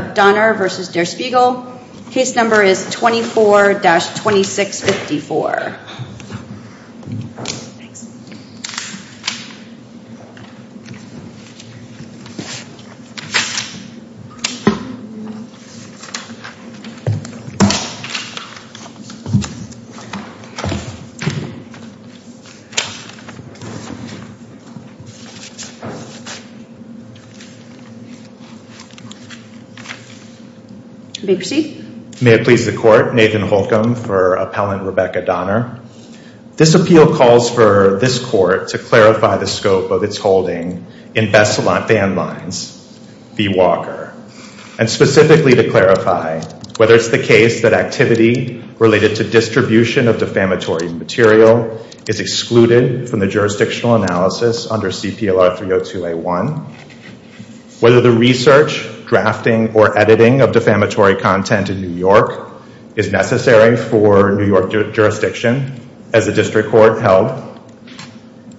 24-2654 May it please the Court, Nathan Holcomb for Appellant Rebecca Donner. This appeal calls for this Court to clarify the scope of its holding in Bessalon Van Lines v. Walker and specifically to clarify whether it's the case that activity related to distribution of defamatory material is excluded from the jurisdictional analysis under CPLR 302A1, whether the research, drafting, or editing of defamatory content in New York is necessary for New York jurisdiction as the District Court held,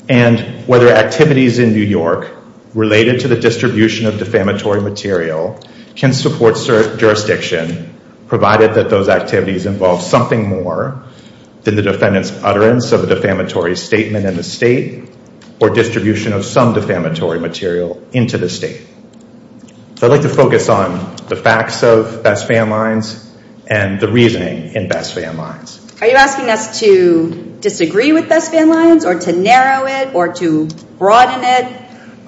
and whether activities in New York related to the distribution of defamatory material can support jurisdiction provided that those activities involve something more than the defendant's utterance of a defamatory statement in the State or distribution of some defamatory material into the State. I'd like to focus on the facts of Bessalon Van Lines and the reasoning in Bessalon Van Lines. Are you asking us to disagree with Bessalon Van Lines or to narrow it or to broaden it?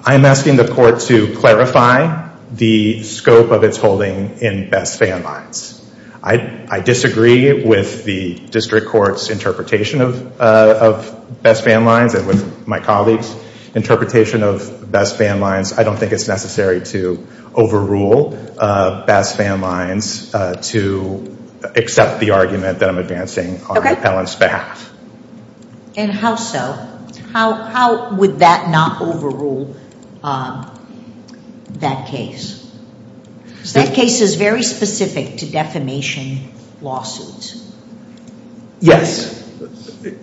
I'm asking the Court to clarify the scope of its holding in Bessalon Van Lines. I disagree with the District Court's interpretation of Bessalon Van Lines and with my colleagues' interpretation of Bessalon Van Lines. I don't think it's necessary to overrule Bessalon Van Lines to accept the argument that I'm advancing on Helen's behalf. And how so? How would that not overrule that case? That case is very specific to defamation lawsuits. Yes.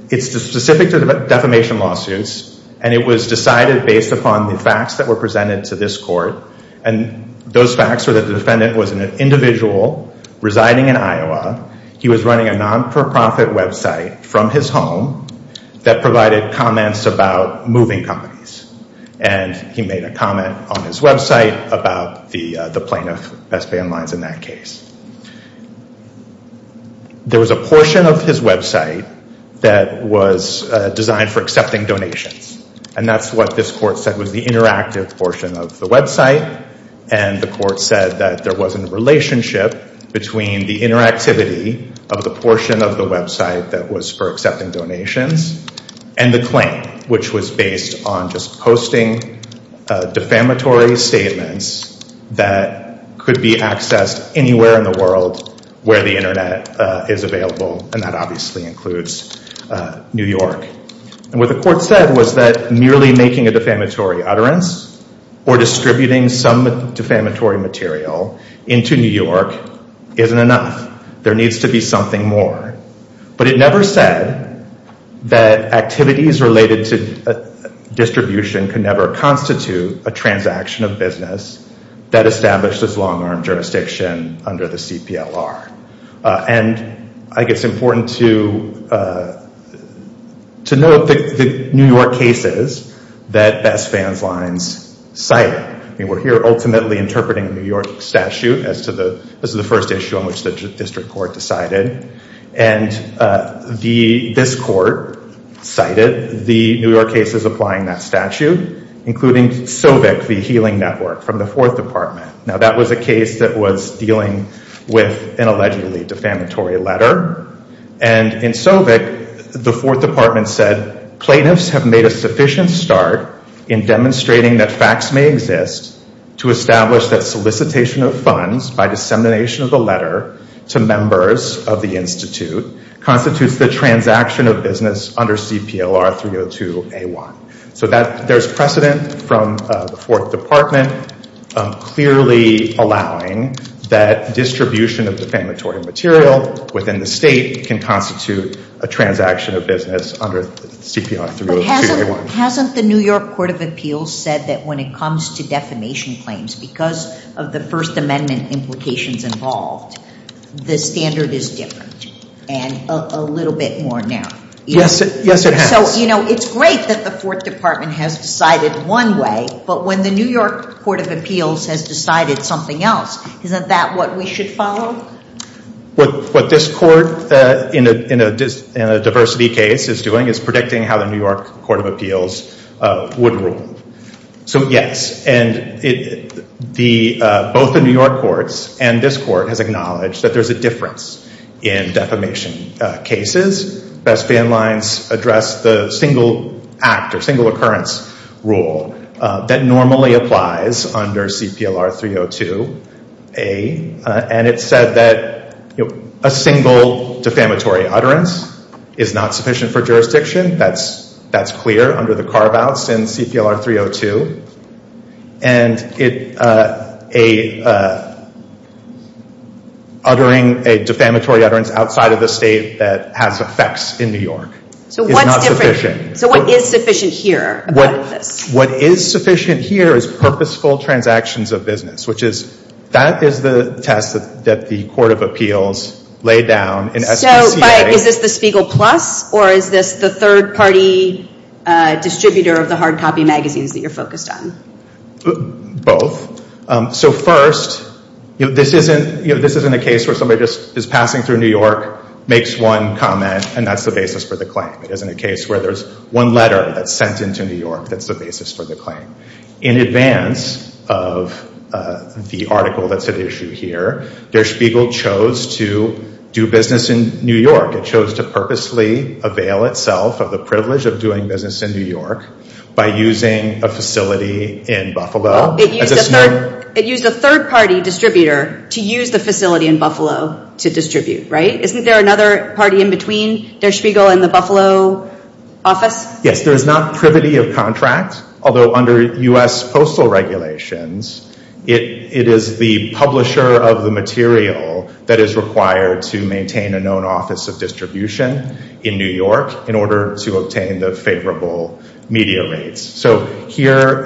It's specific to defamation lawsuits, and it was decided based upon the facts that were presented to this Court. And those facts were that the defendant was an individual residing in Iowa. He was running a non-for-profit website from his home that provided comments about moving companies. And he made a comment on his website about the plaintiff, Bessalon Van Lines, in that case. There was a portion of his website that was designed for accepting donations. And that's what this Court said was the interactive portion of the website. And the Court said that there wasn't a relationship between the interactivity of the portion of the website that was for accepting donations and the claim, which was based on just posting defamatory statements that could be accessed anywhere in the world where the Internet is available, and that obviously includes New York. And what the Court said was that merely making a defamatory utterance or distributing some defamatory material into New York isn't enough. There needs to be something more. But it never said that activities related to distribution could never constitute a transaction of business that established as long-arm jurisdiction under the CPLR. And I think it's important to note the New York cases that Bessalon Van Lines cited. We're here ultimately interpreting the New York statute as the first issue on which the District Court decided. And this Court cited the New York cases applying that statute, including Sovic v. Healing Network from the Fourth Department. Now, that was a case that was dealing with an allegedly defamatory letter. And in Sovic, the Fourth Department said, Plaintiffs have made a sufficient start in demonstrating that facts may exist to establish that solicitation of funds by dissemination of a letter to members of the Institute constitutes the transaction of business under CPLR 302A1. So there's precedent from the Fourth Department clearly allowing that distribution of defamatory material within the State can constitute a transaction of business under CPLR 302A1. But hasn't the New York Court of Appeals said that when it comes to defamation claims, because of the First Amendment implications involved, the standard is different and a little bit more narrow? Yes, it has. So, you know, it's great that the Fourth Department has decided one way, but when the New York Court of Appeals has decided something else, isn't that what we should follow? What this court in a diversity case is doing is predicting how the New York Court of Appeals would rule. So, yes. And both the New York courts and this court has acknowledged that there's a difference in defamation cases. Best Bandlines addressed the single act or single occurrence rule that normally applies under CPLR 302A. And it said that a single defamatory utterance is not sufficient for jurisdiction. That's clear under the carve-outs in CPLR 302. And uttering a defamatory utterance outside of the State that has effects in New York is not sufficient. So what is sufficient here? What is sufficient here is purposeful transactions of business, which is that is the test that the Court of Appeals laid down in SPCA. So, but is this the Spiegel Plus or is this the third-party distributor of the hard copy magazines that you're focused on? Both. So, first, this isn't a case where somebody just is passing through New York, makes one comment, and that's the basis for the claim. It isn't a case where there's one letter that's sent into New York that's the basis for the claim. In advance of the article that's at issue here, Der Spiegel chose to do business in New York. It chose to purposely avail itself of the privilege of doing business in New York by using a facility in Buffalo. It used a third-party distributor to use the facility in Buffalo to distribute, right? Isn't there another party in between Der Spiegel and the Buffalo office? Yes, there is not privity of contract, although under U.S. postal regulations, it is the publisher of the material that is required to maintain a known office of distribution in New York in order to obtain the favorable media rates. So, here,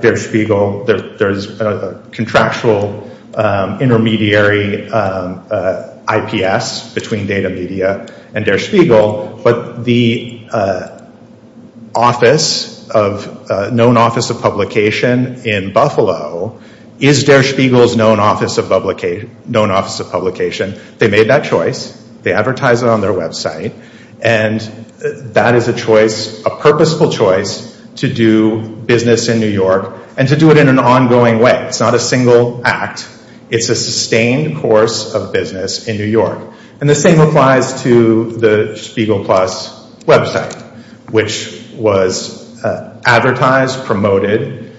Der Spiegel, there's a contractual intermediary IPS between Data Media and Der Spiegel, but the known office of publication in Buffalo is Der Spiegel's known office of publication. They made that choice. They advertise it on their website, and that is a choice, a purposeful choice to do business in New York and to do it in an ongoing way. It's not a single act. It's a sustained course of business in New York. And the same applies to the Spiegel Plus website, which was advertised, promoted,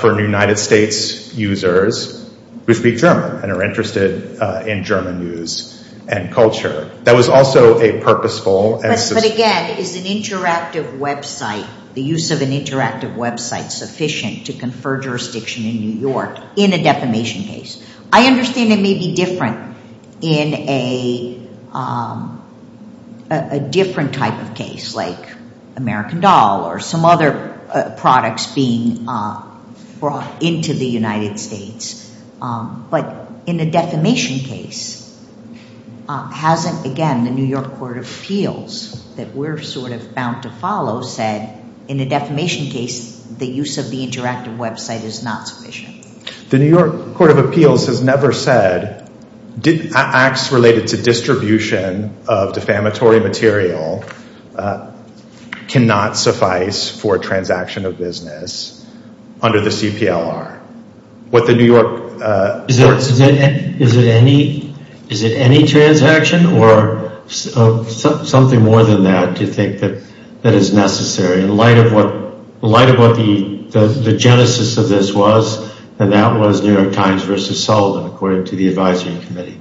for United States users who speak German and are interested in German news and culture. That was also a purposeful and sustained... But, again, is an interactive website, the use of an interactive website, sufficient to confer jurisdiction in New York in a defamation case? I understand it may be different in a different type of case, like American Doll or some other products being brought into the United States. But in a defamation case, hasn't, again, the New York Court of Appeals, that we're sort of bound to follow, said, in a defamation case, the use of the interactive website is not sufficient? The New York Court of Appeals has never said, acts related to distribution of defamatory material cannot suffice for a transaction of business under the CPLR. What the New York... Is it any transaction or something more than that to think that is necessary? In light of what the genesis of this was, and that was New York Times versus Sullivan, according to the advisory committee.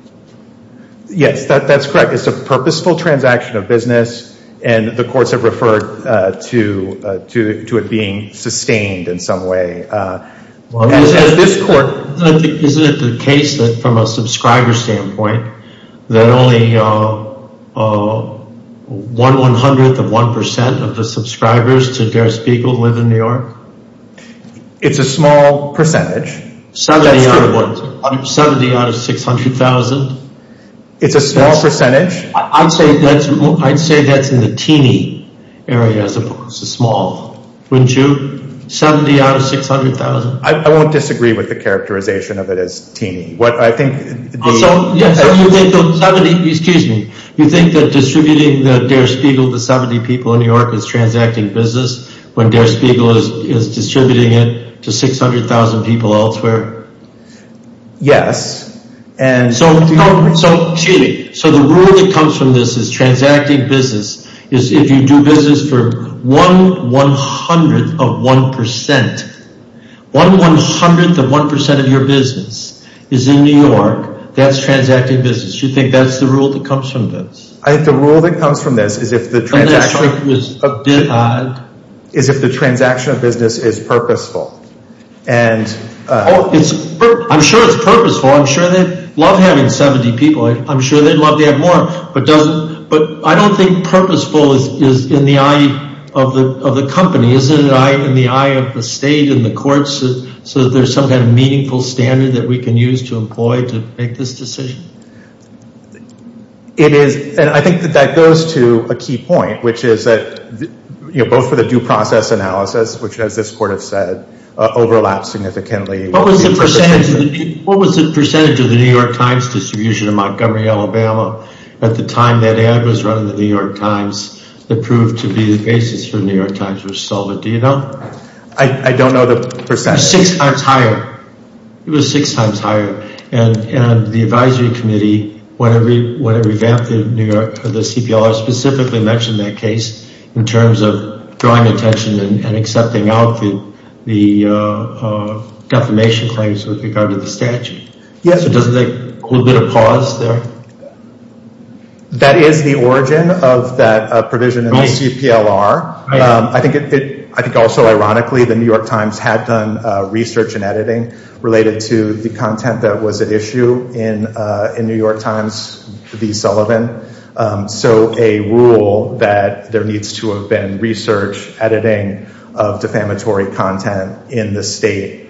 Yes, that's correct. It's a purposeful transaction of business, and the courts have referred to it being sustained in some way. As this court... Isn't it the case that, from a subscriber standpoint, that only one one-hundredth of one percent of the subscribers to Der Spiegel live in New York? It's a small percentage. Seventy out of what? Seventy out of six-hundred thousand? It's a small percentage. I'd say that's in the teeny area, as opposed to small. Wouldn't you? Seventy out of six-hundred thousand? I won't disagree with the characterization of it as teeny. What I think... So, you think that 70... Excuse me. You think that distributing Der Spiegel to 70 people in New York is transacting business, when Der Spiegel is distributing it to 600,000 people elsewhere? Yes, and... So, the rule that comes from this is transacting business, is if you do business for one one-hundredth of one percent, one one-hundredth of one percent of your business is in New York, that's transacting business. You think that's the rule that comes from this? I think the rule that comes from this is if the transaction... ...is if the transaction of business is purposeful. I'm sure it's purposeful. I'm sure they'd love having 70 people. I'm sure they'd love to have more. But I don't think purposeful is in the eye of the company. Is it in the eye of the state and the courts, so that there's some kind of meaningful standard that we can use to employ to make this decision? It is, and I think that that goes to a key point, which is that, you know, both for the due process analysis, which as this court has said, overlaps significantly... What was the percentage of the New York Times distribution in Montgomery, Alabama, at the time that ad was run in the New York Times, that proved to be the basis for the New York Times was solid? Do you know? I don't know the percentage. Six times higher. It was six times higher. And the advisory committee, when it revamped the CPLR, specifically mentioned that case in terms of drawing attention and accepting out the defamation claims with regard to the statute. Yes. So doesn't that hold a bit of pause there? That is the origin of that provision in the CPLR. I think also ironically, the New York Times had done research and editing related to the content that was at issue in New York Times v. Sullivan. So a rule that there needs to have been research, editing of defamatory content in the state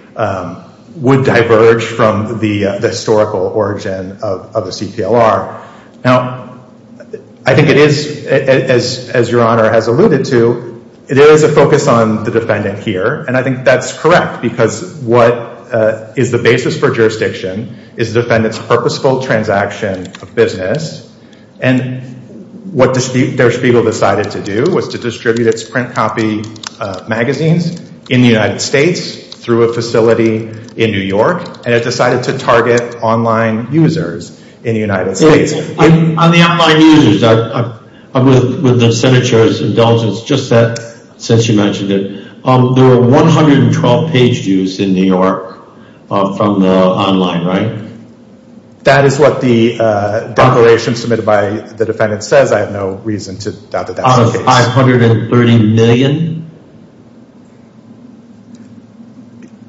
would diverge from the historical origin of the CPLR. Now, I think it is, as Your Honor has alluded to, it is a focus on the defendant here. And I think that is correct because what is the basis for jurisdiction is the defendant's purposeful transaction of business. And what Der Spiegel decided to do was to distribute its print copy magazines in the United States through a facility in New York, and it decided to target online users in the United States. On the online users, with the Senate Chair's indulgence, just that since you mentioned it, there were 112 page views in New York from the online, right? That is what the declaration submitted by the defendant says. I have no reason to doubt that that's the case. Out of 530 million?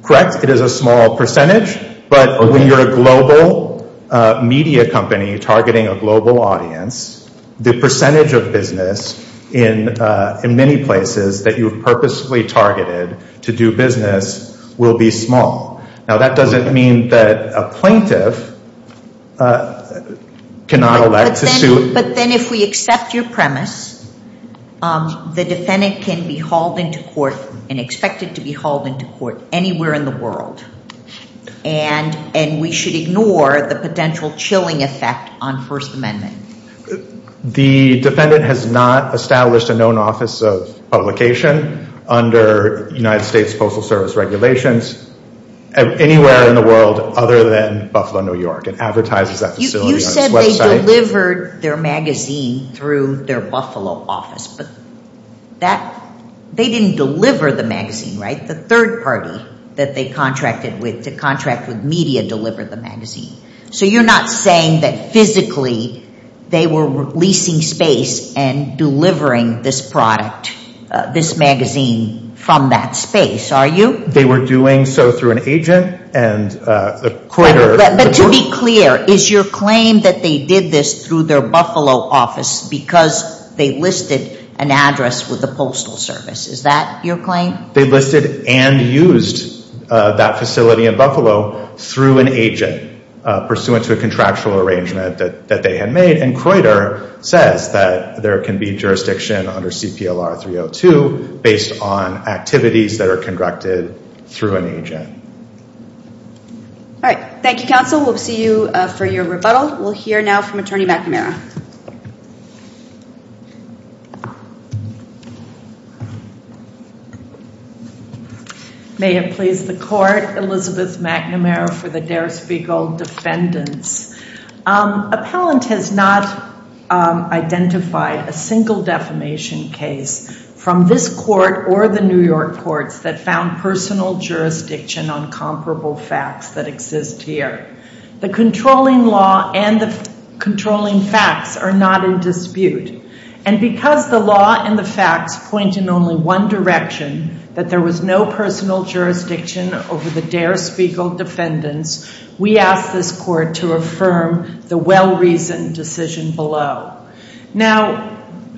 Correct. It is a small percentage. But when you're a global media company targeting a global audience, the percentage of business in many places that you have purposely targeted to do business will be small. Now, that doesn't mean that a plaintiff cannot elect to sue. But then if we accept your premise, the defendant can be hauled into court and expected to be hauled into court anywhere in the world. And we should ignore the potential chilling effect on First Amendment. The defendant has not established a known office of publication under United States Postal Service regulations anywhere in the world other than Buffalo, New York. It advertises that facility on its website. You said they delivered their magazine through their Buffalo office, but they didn't deliver the magazine, right? The third party that they contracted with to contract with media delivered the magazine. So you're not saying that physically they were leasing space and delivering this product, this magazine, from that space, are you? They were doing so through an agent and a critter. But to be clear, is your claim that they did this through their Buffalo office because they listed an address with the Postal Service, is that your claim? They listed and used that facility in Buffalo through an agent pursuant to a contractual arrangement that they had made. And Croyder says that there can be jurisdiction under CPLR 302 based on activities that are conducted through an agent. All right. Thank you, counsel. We'll see you for your rebuttal. We'll hear now from Attorney McNamara. May it please the court, Elizabeth McNamara for the dare speak all defendants. Appellant has not identified a single defamation case from this court or the New York courts that found personal jurisdiction on comparable facts that exist here. The controlling law and the controlling facts are not in dispute. And because the law and the facts point in only one direction, that there was no personal jurisdiction over the dare speak all defendants, we ask this court to affirm the well-reasoned decision below. Now,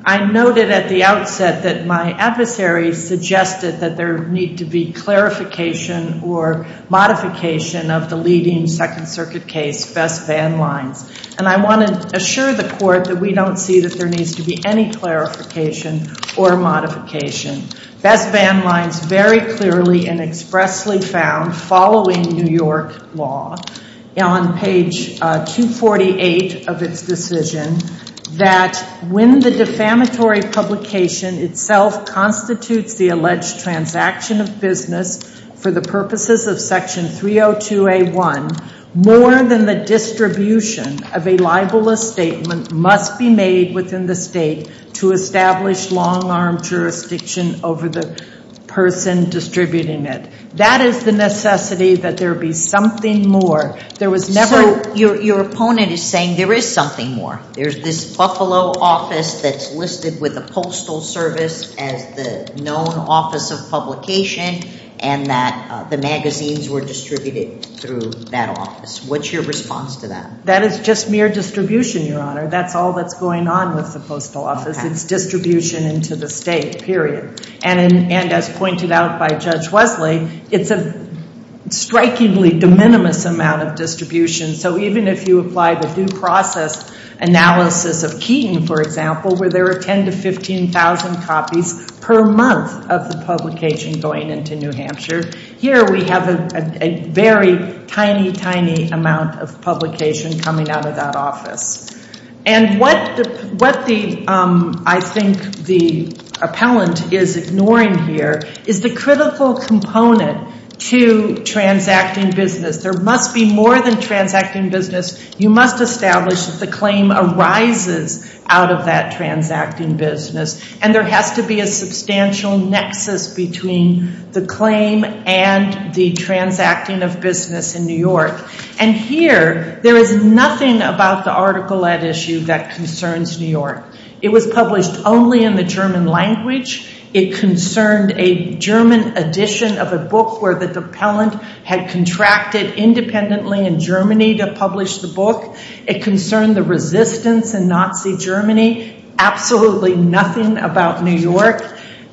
I noted at the outset that my adversary suggested that there need to be clarification or modification of the leading Second Circuit case, Best Van Lines. And I want to assure the court that we don't see that there needs to be any clarification or modification. Best Van Lines very clearly and expressly found following New York law on page 248 of its decision that when the defamatory publication itself constitutes the alleged transaction of business for the purposes of Section 302A1, more than the distribution of a libelous statement must be made within the state to establish long-arm jurisdiction over the person distributing it. That is the necessity that there be something more. There was never... So, your opponent is saying there is something more. There's this Buffalo office that's listed with the Postal Service as the known office of publication and that the magazines were distributed through that office. What's your response to that? That is just mere distribution, Your Honor. That's all that's going on with the Postal Office. It's distribution into the state, period. And as pointed out by Judge Wesley, it's a strikingly de minimis amount of distribution. So, even if you apply the due process analysis of Keaton, for example, where there are 10,000 to 15,000 copies per month of the publication going into New Hampshire, here we have a very tiny, tiny amount of publication coming out of that office. And what I think the appellant is ignoring here is the critical component to transacting business. There must be more than transacting business. You must establish that the claim arises out of that transacting business, and there has to be a substantial nexus between the claim and the transacting of business in New York. And here, there is nothing about the article at issue that concerns New York. It was published only in the German language. It concerned a German edition of a book where the appellant had contracted independently in Germany to publish the book. It concerned the resistance in Nazi Germany. Absolutely nothing about New York.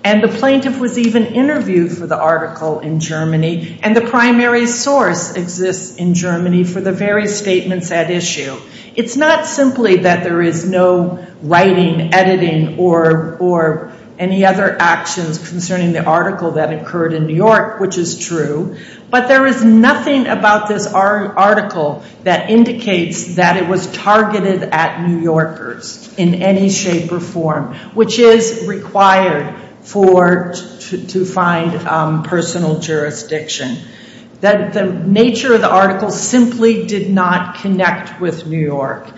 And the plaintiff was even interviewed for the article in Germany, and the primary source exists in Germany for the various statements at issue. It's not simply that there is no writing, editing, or any other actions concerning the article that occurred in New York, which is true. But there is nothing about this article that indicates that it was targeted at New Yorkers in any shape or form, which is required to find personal jurisdiction. The nature of the article simply did not connect with New York.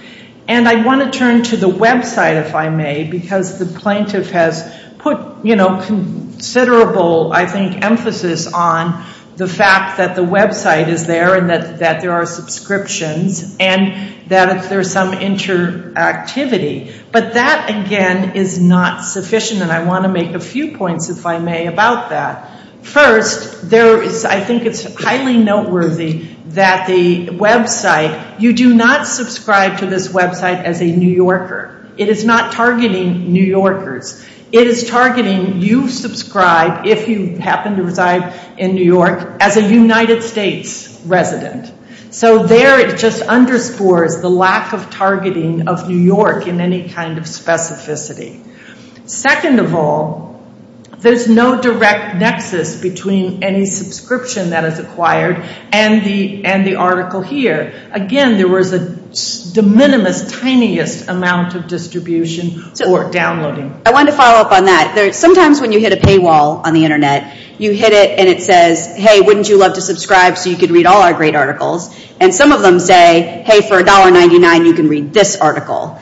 And I want to turn to the website, if I may, because the plaintiff has put considerable, I think, emphasis on the fact that the website is there and that there are subscriptions and that there's some interactivity. But that, again, is not sufficient, and I want to make a few points, if I may, about that. First, I think it's highly noteworthy that the website, you do not subscribe to this website as a New Yorker. It is not targeting New Yorkers. It is targeting you subscribe, if you happen to reside in New York, as a United States resident. So there it just underscores the lack of targeting of New York in any kind of specificity. Second of all, there's no direct nexus between any subscription that is acquired and the article here. Again, there was a de minimis, tiniest amount of distribution or downloading. I want to follow up on that. Sometimes when you hit a paywall on the Internet, you hit it and it says, hey, wouldn't you love to subscribe so you could read all our great articles? And some of them say, hey, for $1.99, you can read this article.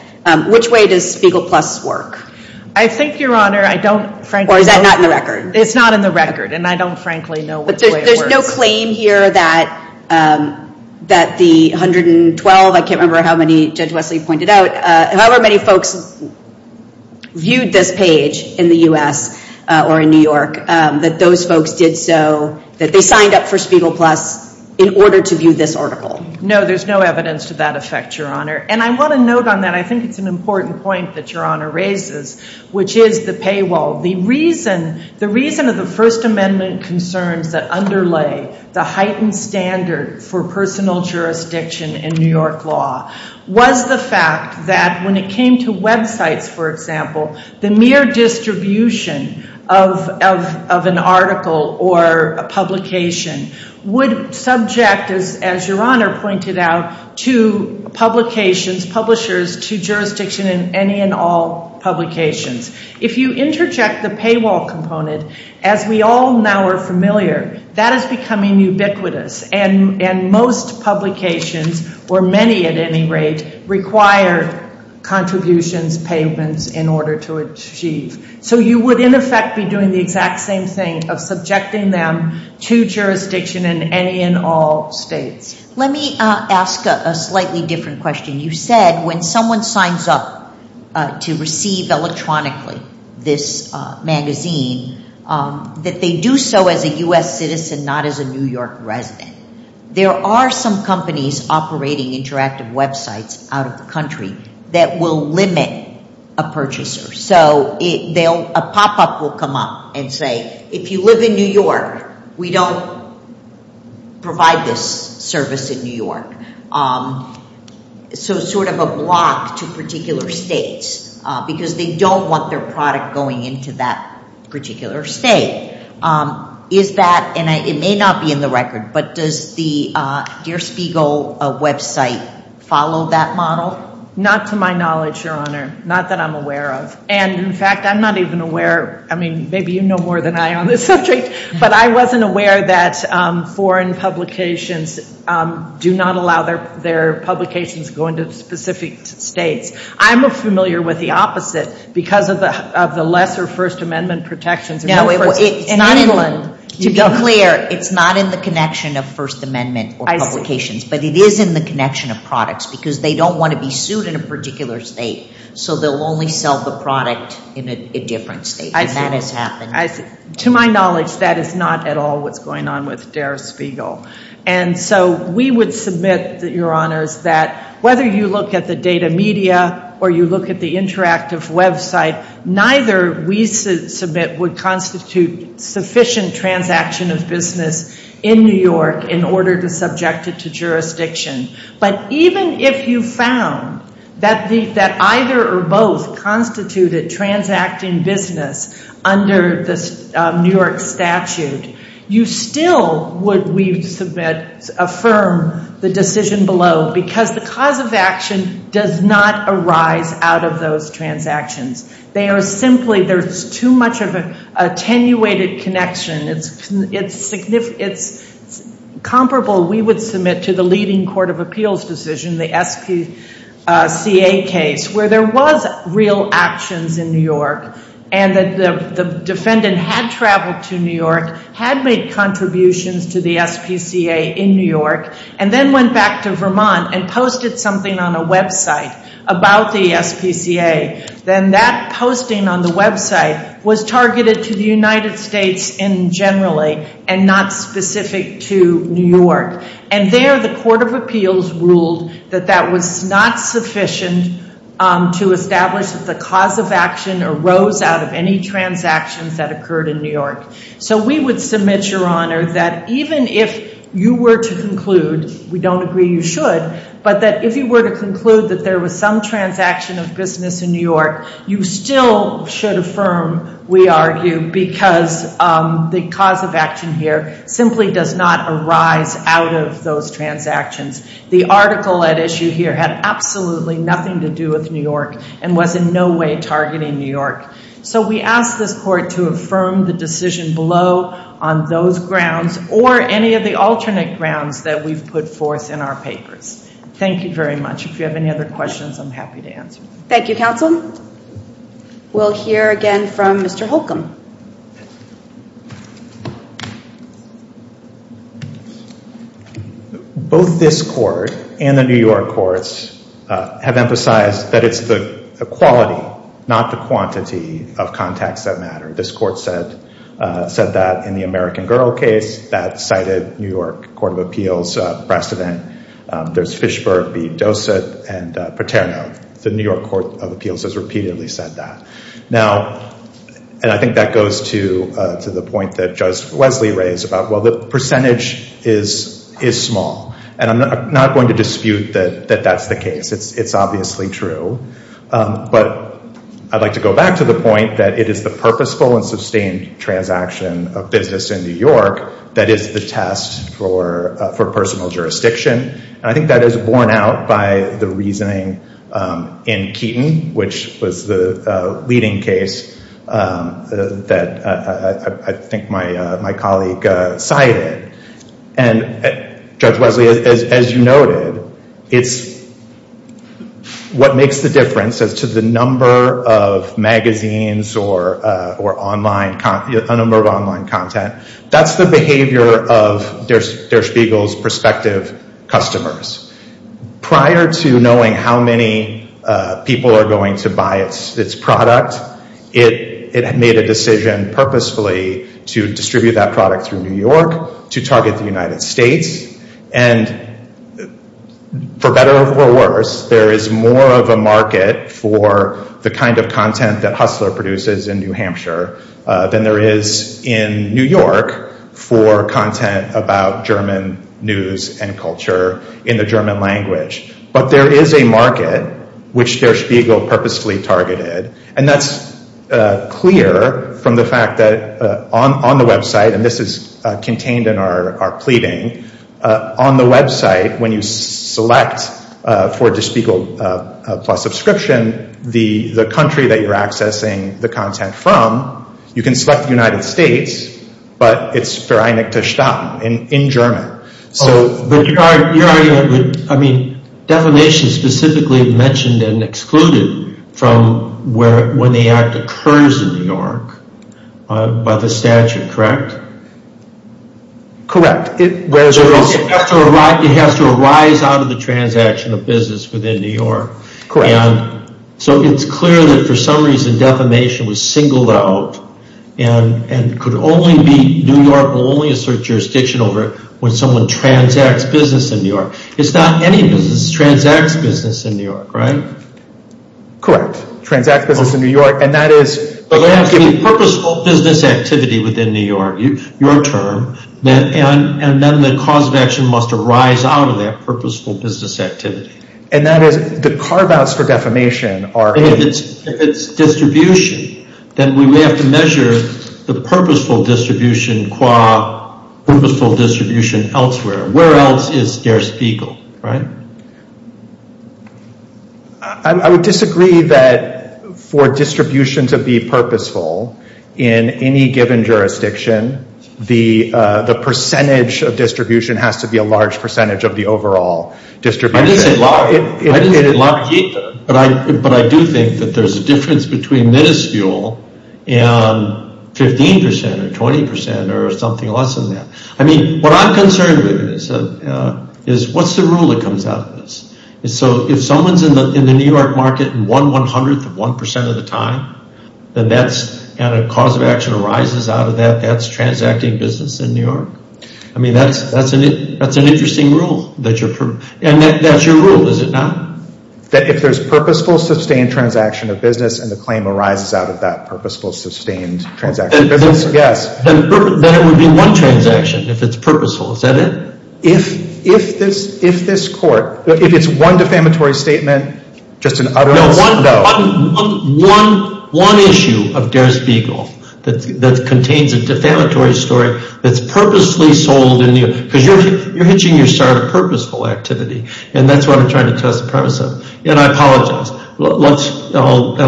Which way does Spiegel Plus work? I think, Your Honor, I don't frankly know. Or is that not in the record? It's not in the record, and I don't frankly know which way it works. There's no claim here that the 112, I can't remember how many Judge Wesley pointed out, however many folks viewed this page in the U.S. or in New York, that those folks did so, that they signed up for Spiegel Plus in order to view this article. No, there's no evidence to that effect, Your Honor. And I want to note on that, I think it's an important point that Your Honor raises, which is the paywall. The reason of the First Amendment concerns that underlay the heightened standard for personal jurisdiction in New York law was the fact that when it came to websites, for example, the mere distribution of an article or a publication would subject, as Your Honor pointed out, to publications, publishers, to jurisdiction in any and all publications. If you interject the paywall component, as we all now are familiar, that is becoming ubiquitous. And most publications, or many at any rate, require contributions, payments in order to achieve. So you would, in effect, be doing the exact same thing of subjecting them to jurisdiction in any and all states. Let me ask a slightly different question. You said when someone signs up to receive electronically this magazine, that they do so as a U.S. citizen, not as a New York resident. There are some companies operating interactive websites out of the country that will limit a purchaser. So a pop-up will come up and say, if you live in New York, we don't provide this service in New York. So sort of a block to particular states, because they don't want their product going into that particular state. Is that, and it may not be in the record, but does the Dear Spiegel website follow that model? Not to my knowledge, Your Honor. Not that I'm aware of. And, in fact, I'm not even aware, I mean, maybe you know more than I on this subject, but I wasn't aware that foreign publications do not allow their publications to go into specific states. I'm familiar with the opposite, because of the lesser First Amendment protections. To be clear, it's not in the connection of First Amendment publications, but it is in the connection of products, because they don't want to be sued in a particular state. So they'll only sell the product in a different state, and that has happened. To my knowledge, that is not at all what's going on with Dear Spiegel. And so we would submit, Your Honors, that whether you look at the data media or you look at the interactive website, neither we submit would constitute sufficient transaction of business in New York in order to subject it to jurisdiction. But even if you found that either or both constituted transacting business under the New York statute, you still would, we submit, affirm the decision below, because the cause of action does not arise out of those transactions. They are simply, there's too much of an attenuated connection. It's comparable, we would submit, to the leading court of appeals decision, the SPCA case, where there was real actions in New York, and the defendant had traveled to New York, had made contributions to the SPCA in New York, and then went back to Vermont and posted something on a website about the SPCA. Then that posting on the website was targeted to the United States in generally, and not specific to New York. And there, the court of appeals ruled that that was not sufficient to establish that the cause of action arose out of any transactions that occurred in New York. So we would submit, Your Honor, that even if you were to conclude, we don't agree you should, but that if you were to conclude that there was some transaction of business in New York, you still should affirm, we argue, because the cause of action here simply does not arise out of those transactions. The article at issue here had absolutely nothing to do with New York, and was in no way targeting New York. So we ask this court to affirm the decision below on those grounds, or any of the alternate grounds that we've put forth in our papers. Thank you very much. If you have any other questions, I'm happy to answer. Thank you, counsel. We'll hear again from Mr. Holcomb. Both this court and the New York courts have emphasized that it's the quality, not the quantity, of contacts that matter. This court said that in the American Girl case that cited New York Court of Appeals precedent. There's Fishberg v. Dossett and Paterno. The New York Court of Appeals has repeatedly said that. Now, and I think that goes to the point that Judge Wesley raised about, well, the percentage is small. And I'm not going to dispute that that's the case. It's obviously true. But I'd like to go back to the point that it is the purposeful and sustained transaction of business in New York that is the test for personal jurisdiction. And I think that is borne out by the reasoning in Keaton, which was the leading case that I think my colleague cited. And Judge Wesley, as you noted, it's what makes the difference as to the number of magazines or a number of online content. That's the behavior of Der Spiegel's prospective customers. Prior to knowing how many people are going to buy its product, it had made a decision purposefully to distribute that product through New York to target the United States. And for better or for worse, there is more of a market for the kind of content that Hustler produces in New Hampshire than there is in New York for content about German news and culture in the German language. But there is a market which Der Spiegel purposefully targeted. And that's clear from the fact that on the website, and this is contained in our pleading, on the website when you select for Der Spiegel Plus subscription, the country that you're accessing the content from, you can select the United States, but it's vereinigte Staaten in German. Your argument, I mean, defamation specifically mentioned and excluded from when the act occurs in New York by the statute, correct? It has to arise out of the transaction of business within New York. Correct. And so it's clear that for some reason defamation was singled out and could only be New York and only assert jurisdiction over it when someone transacts business in New York. It's not any business. It's transacts business in New York, right? Correct. Transacts business in New York, and that is... But there has to be purposeful business activity within New York, your term, and then the cause of action must arise out of that purposeful business activity. And that is the carve-outs for defamation are... If it's distribution, then we may have to measure the purposeful distribution qua purposeful distribution elsewhere. Where else is Der Spiegel, right? I would disagree that for distribution to be purposeful in any given jurisdiction, the percentage of distribution has to be a large percentage of the overall distribution. But I do think that there's a difference between minuscule and 15% or 20% or something less than that. I mean, what I'm concerned with is what's the rule that comes out of this? And so if someone's in the New York market and won 100th of 1% of the time, and a cause of action arises out of that, that's transacting business in New York. I mean, that's an interesting rule that you're... And that's your rule, is it not? That if there's purposeful sustained transaction of business and the claim arises out of that purposeful sustained transaction of business, yes. Then it would be one transaction if it's purposeful, is that it? If this court, if it's one defamatory statement, just an utterance, no. One issue of Der Spiegel that contains a defamatory story that's purposely sold in New York. Because you're hitching your starter purposeful activity. And that's what I'm trying to test the premise of. And I apologize. I'll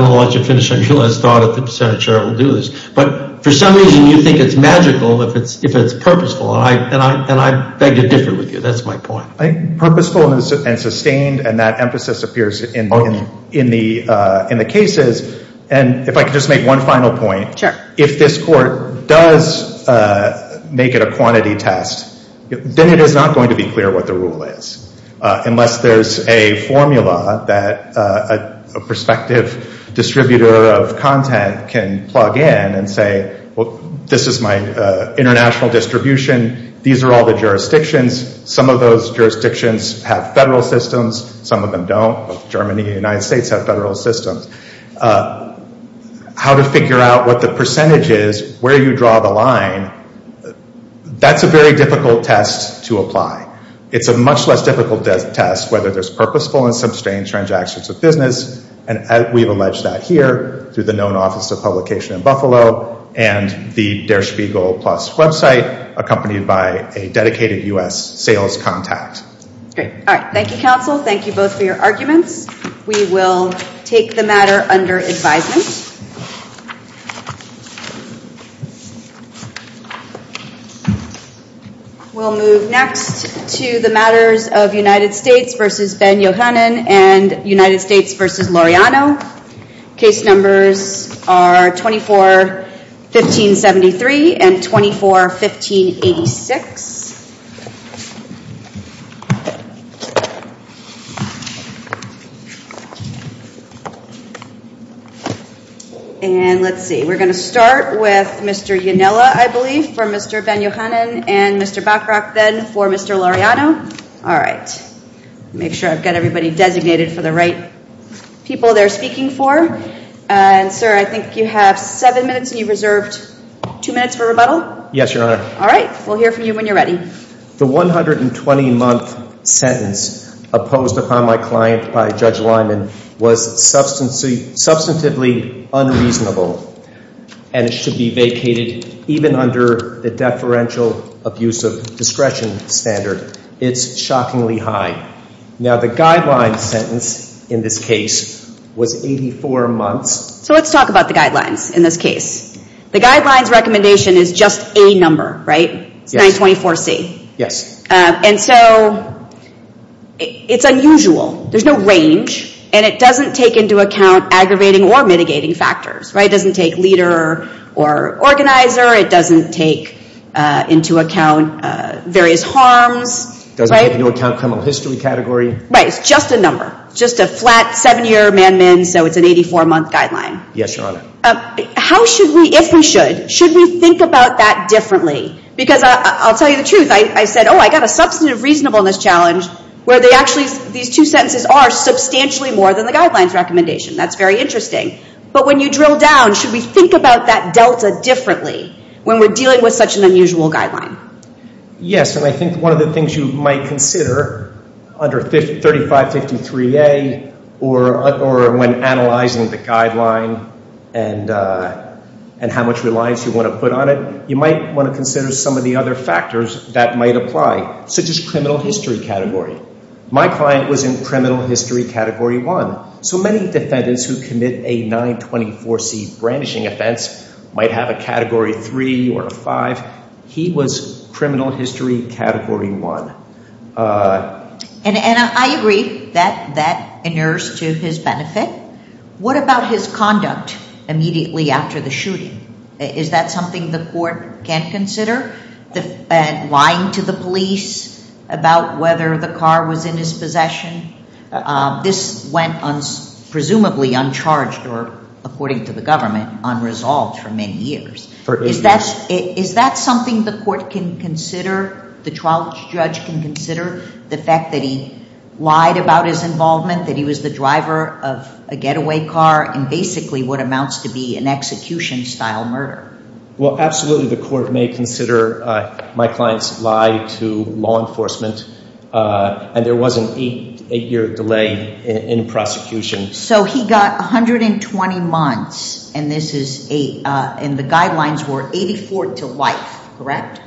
let you finish on your last thought if the Senate chair will do this. But for some reason, you think it's magical if it's purposeful. And I beg to differ with you. That's my point. Purposeful and sustained, and that emphasis appears in the cases. And if I could just make one final point. Sure. If this court does make it a quantity test, then it is not going to be clear what the rule is. Unless there's a formula that a prospective distributor of content can plug in and say, well, this is my international distribution. These are all the jurisdictions. Some of those jurisdictions have federal systems. Some of them don't. Germany and the United States have federal systems. How to figure out what the percentage is, where you draw the line, that's a very difficult test to apply. It's a much less difficult test whether there's purposeful and sustained transactions of business. And we've alleged that here through the known Office of Publication in Buffalo and the Der Spiegel Plus website accompanied by a dedicated U.S. sales contact. Great. All right. Thank you, counsel. Thank you both for your arguments. We will take the matter under advisement. We'll move next to the matters of United States v. Ben Yohannan and United States v. Loreano. Case numbers are 24-1573 and 24-1586. And let's see. We're going to start with Mr. Yonella, I believe, for Mr. Ben Yohannan and Mr. Bachrach then for Mr. Loreano. All right. Make sure I've got everybody designated for the right people they're speaking for. And, sir, I think you have seven minutes and you've reserved two minutes for rebuttal. Yes, Your Honor. All right. We'll hear from you when you're ready. The 120-month sentence opposed upon my client by Judge Lyman was substantively unreasonable and it should be vacated even under the deferential abuse of discretion standard. It's shockingly high. Now, the guidelines sentence in this case was 84 months. So let's talk about the guidelines in this case. The guidelines recommendation is just a number, right? Yes. It's 924C. Yes. And so it's unusual. There's no range and it doesn't take into account aggravating or mitigating factors, right? It doesn't take leader or organizer. It doesn't take into account various harms, right? It doesn't take into account criminal history category. Right. It's just a number, just a flat seven-year man-min. So it's an 84-month guideline. Yes, Your Honor. How should we, if we should, should we think about that differently? Because I'll tell you the truth. I said, oh, I've got a substantive reasonableness challenge where they actually, these two sentences are substantially more than the guidelines recommendation. That's very interesting. But when you drill down, should we think about that delta differently when we're dealing with such an unusual guideline? Yes. And I think one of the things you might consider under 3553A or when analyzing the guideline and how much reliance you want to put on it, you might want to consider some of the other factors that might apply, such as criminal history category. My client was in criminal history category one. So many defendants who commit a 924C brandishing offense might have a category three or a five. He was criminal history category one. And I agree that that inures to his benefit. What about his conduct immediately after the shooting? Is that something the court can consider? Lying to the police about whether the car was in his possession? This went presumably uncharged or, according to the government, unresolved for many years. Is that something the court can consider, the trial judge can consider, the fact that he lied about his involvement, that he was the driver of a getaway car, and basically what amounts to be an execution-style murder? Well, absolutely the court may consider my client's lie to law enforcement. And there was an eight-year delay in prosecution. So he got 120 months, and the guidelines were 84 to life, correct?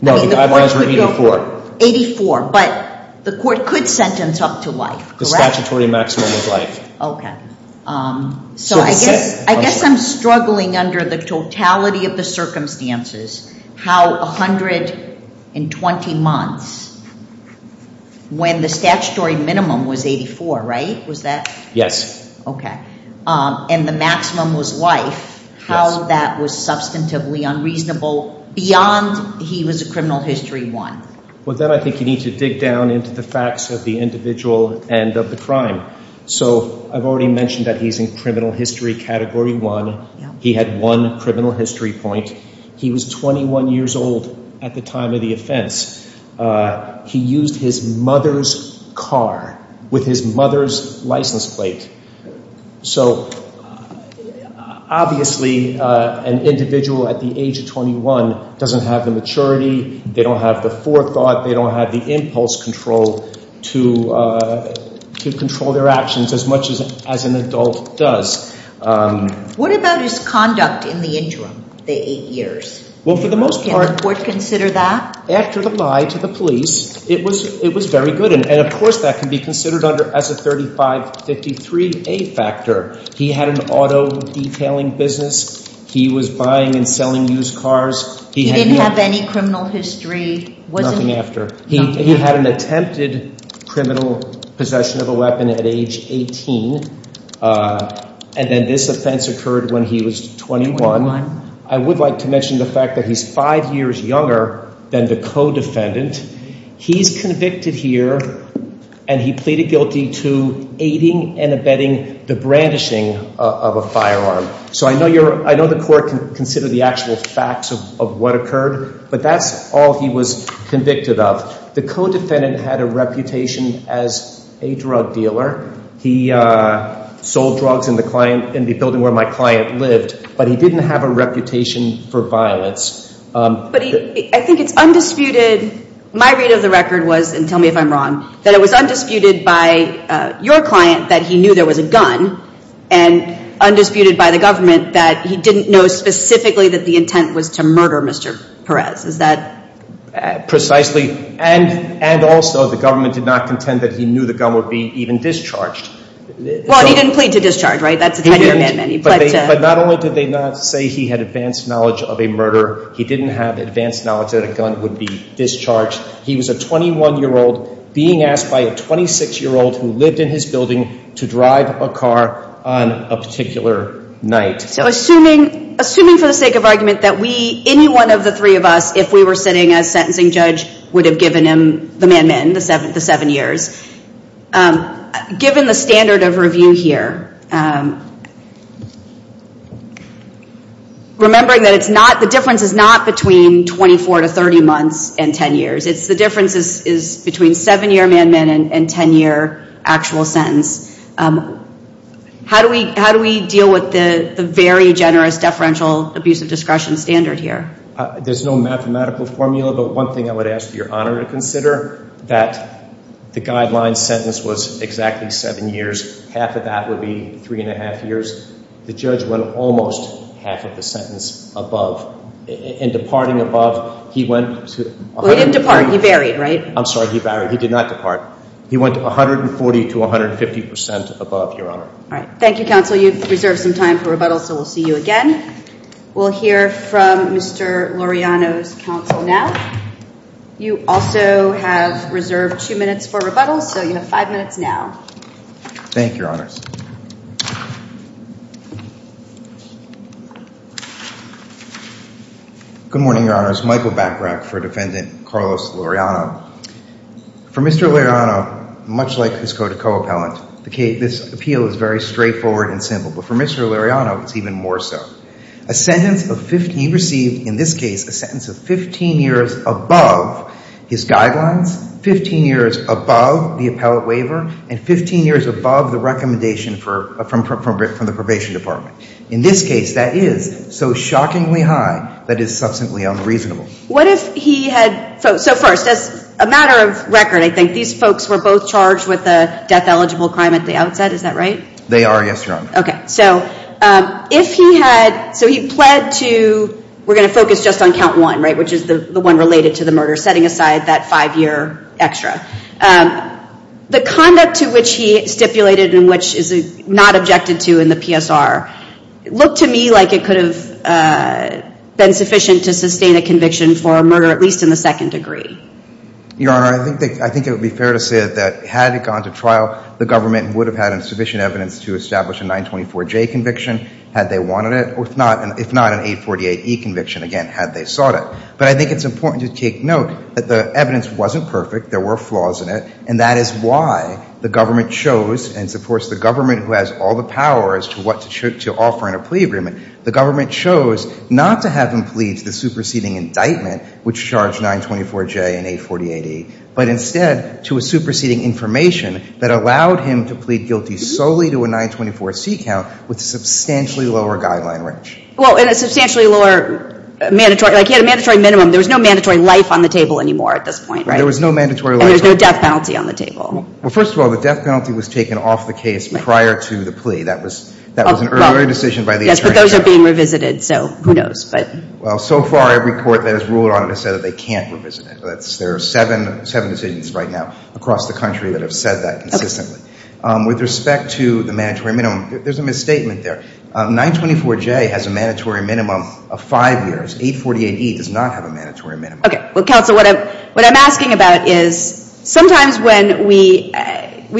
No, the guidelines were 84. 84. But the court could sentence up to life, correct? The statutory maximum is life. Okay. So I guess I'm struggling under the totality of the circumstances, how 120 months, when the statutory minimum was 84, right? Was that? Yes. Okay. And the maximum was life. How that was substantively unreasonable beyond he was a criminal history 1. Well, then I think you need to dig down into the facts of the individual and of the crime. So I've already mentioned that he's in criminal history category 1. He had one criminal history point. He was 21 years old at the time of the offense. He used his mother's car with his mother's license plate. So obviously an individual at the age of 21 doesn't have the maturity. They don't have the forethought. They don't have the impulse control to control their actions as much as an adult does. What about his conduct in the interim, the eight years? Can the court consider that? After the lie to the police, it was very good. And, of course, that can be considered as a 3553A factor. He had an auto detailing business. He was buying and selling used cars. He didn't have any criminal history, was he? Nothing after. He had an attempted criminal possession of a weapon at age 18, and then this offense occurred when he was 21. I would like to mention the fact that he's five years younger than the co-defendant. He's convicted here, and he pleaded guilty to aiding and abetting the brandishing of a firearm. So I know the court can consider the actual facts of what occurred, but that's all he was convicted of. The co-defendant had a reputation as a drug dealer. He sold drugs in the building where my client lived, but he didn't have a reputation for violence. But I think it's undisputed. My read of the record was, and tell me if I'm wrong, that it was undisputed by your client that he knew there was a gun and undisputed by the government that he didn't know specifically that the intent was to murder Mr. Perez. Is that? Precisely. And also the government did not contend that he knew the gun would be even discharged. Well, he didn't plead to discharge, right? That's a 10-year amendment. But not only did they not say he had advanced knowledge of a murder, he didn't have advanced knowledge that a gun would be discharged. He was a 21-year-old being asked by a 26-year-old who lived in his building to drive a car on a particular night. So assuming for the sake of argument that any one of the three of us, if we were sitting as sentencing judge, would have given him the man-man, the seven years, given the standard of review here, remembering that the difference is not between 24 to 30 months and 10 years. The difference is between seven-year man-man and 10-year actual sentence. How do we deal with the very generous deferential abusive discretion standard here? There's no mathematical formula, but one thing I would ask for your honor to consider, that the guideline sentence was exactly seven years. Half of that would be three-and-a-half years. The judge went almost half of the sentence above. In departing above, he went to 140 to 150 percent above, your honor. Thank you, counsel. You've reserved some time for rebuttal, so we'll see you again. We'll hear from Mr. Laureano's counsel now. You also have reserved two minutes for rebuttal, so you have five minutes now. Thank you, your honors. Good morning, your honors. Michael Bachrach for Defendant Carlos Laureano. For Mr. Laureano, much like his code of co-appellant, this appeal is very straightforward and simple. But for Mr. Laureano, it's even more so. A sentence of 15 received, in this case, a sentence of 15 years above his guidelines, 15 years above the appellate waiver, and 15 years above the recommendation from the probation department. In this case, that is so shockingly high that it is substantially unreasonable. What if he had ‑‑ so first, as a matter of record, I think, these folks were both charged with a death-eligible crime at the outset. Is that right? They are, yes, your honor. Okay. So if he had ‑‑ so he pled to ‑‑ we're going to focus just on count one, right, which is the one related to the murder, setting aside that five‑year extra. The conduct to which he stipulated and which is not objected to in the PSR, looked to me like it could have been sufficient to sustain a conviction for a murder, at least in the second degree. Your honor, I think it would be fair to say that had it gone to trial, the government would have had sufficient evidence to establish a 924J conviction had they wanted it, if not an 848E conviction, again, had they sought it. But I think it's important to take note that the evidence wasn't perfect. There were flaws in it. And that is why the government chose, and it's, of course, the government who has all the power as to what to offer in a plea agreement, the government chose not to have him plead to the superseding indictment, which charged 924J and 848E, but instead to a superseding information that allowed him to plead guilty solely to a 924C count with a substantially lower guideline range. Well, and a substantially lower mandatory, like he had a mandatory minimum. There was no mandatory life on the table anymore at this point, right? There was no mandatory life on the table. And there was no death penalty on the table. Well, first of all, the death penalty was taken off the case prior to the plea. That was an earlier decision by the attorney general. Yes, but those are being revisited, so who knows. Well, so far, every court that has ruled on it has said that they can't revisit it. There are seven decisions right now across the country that have said that consistently. Okay. With respect to the mandatory minimum, there's a misstatement there. 924J has a mandatory minimum of five years. 848E does not have a mandatory minimum. Okay. Well, counsel, what I'm asking about is sometimes when we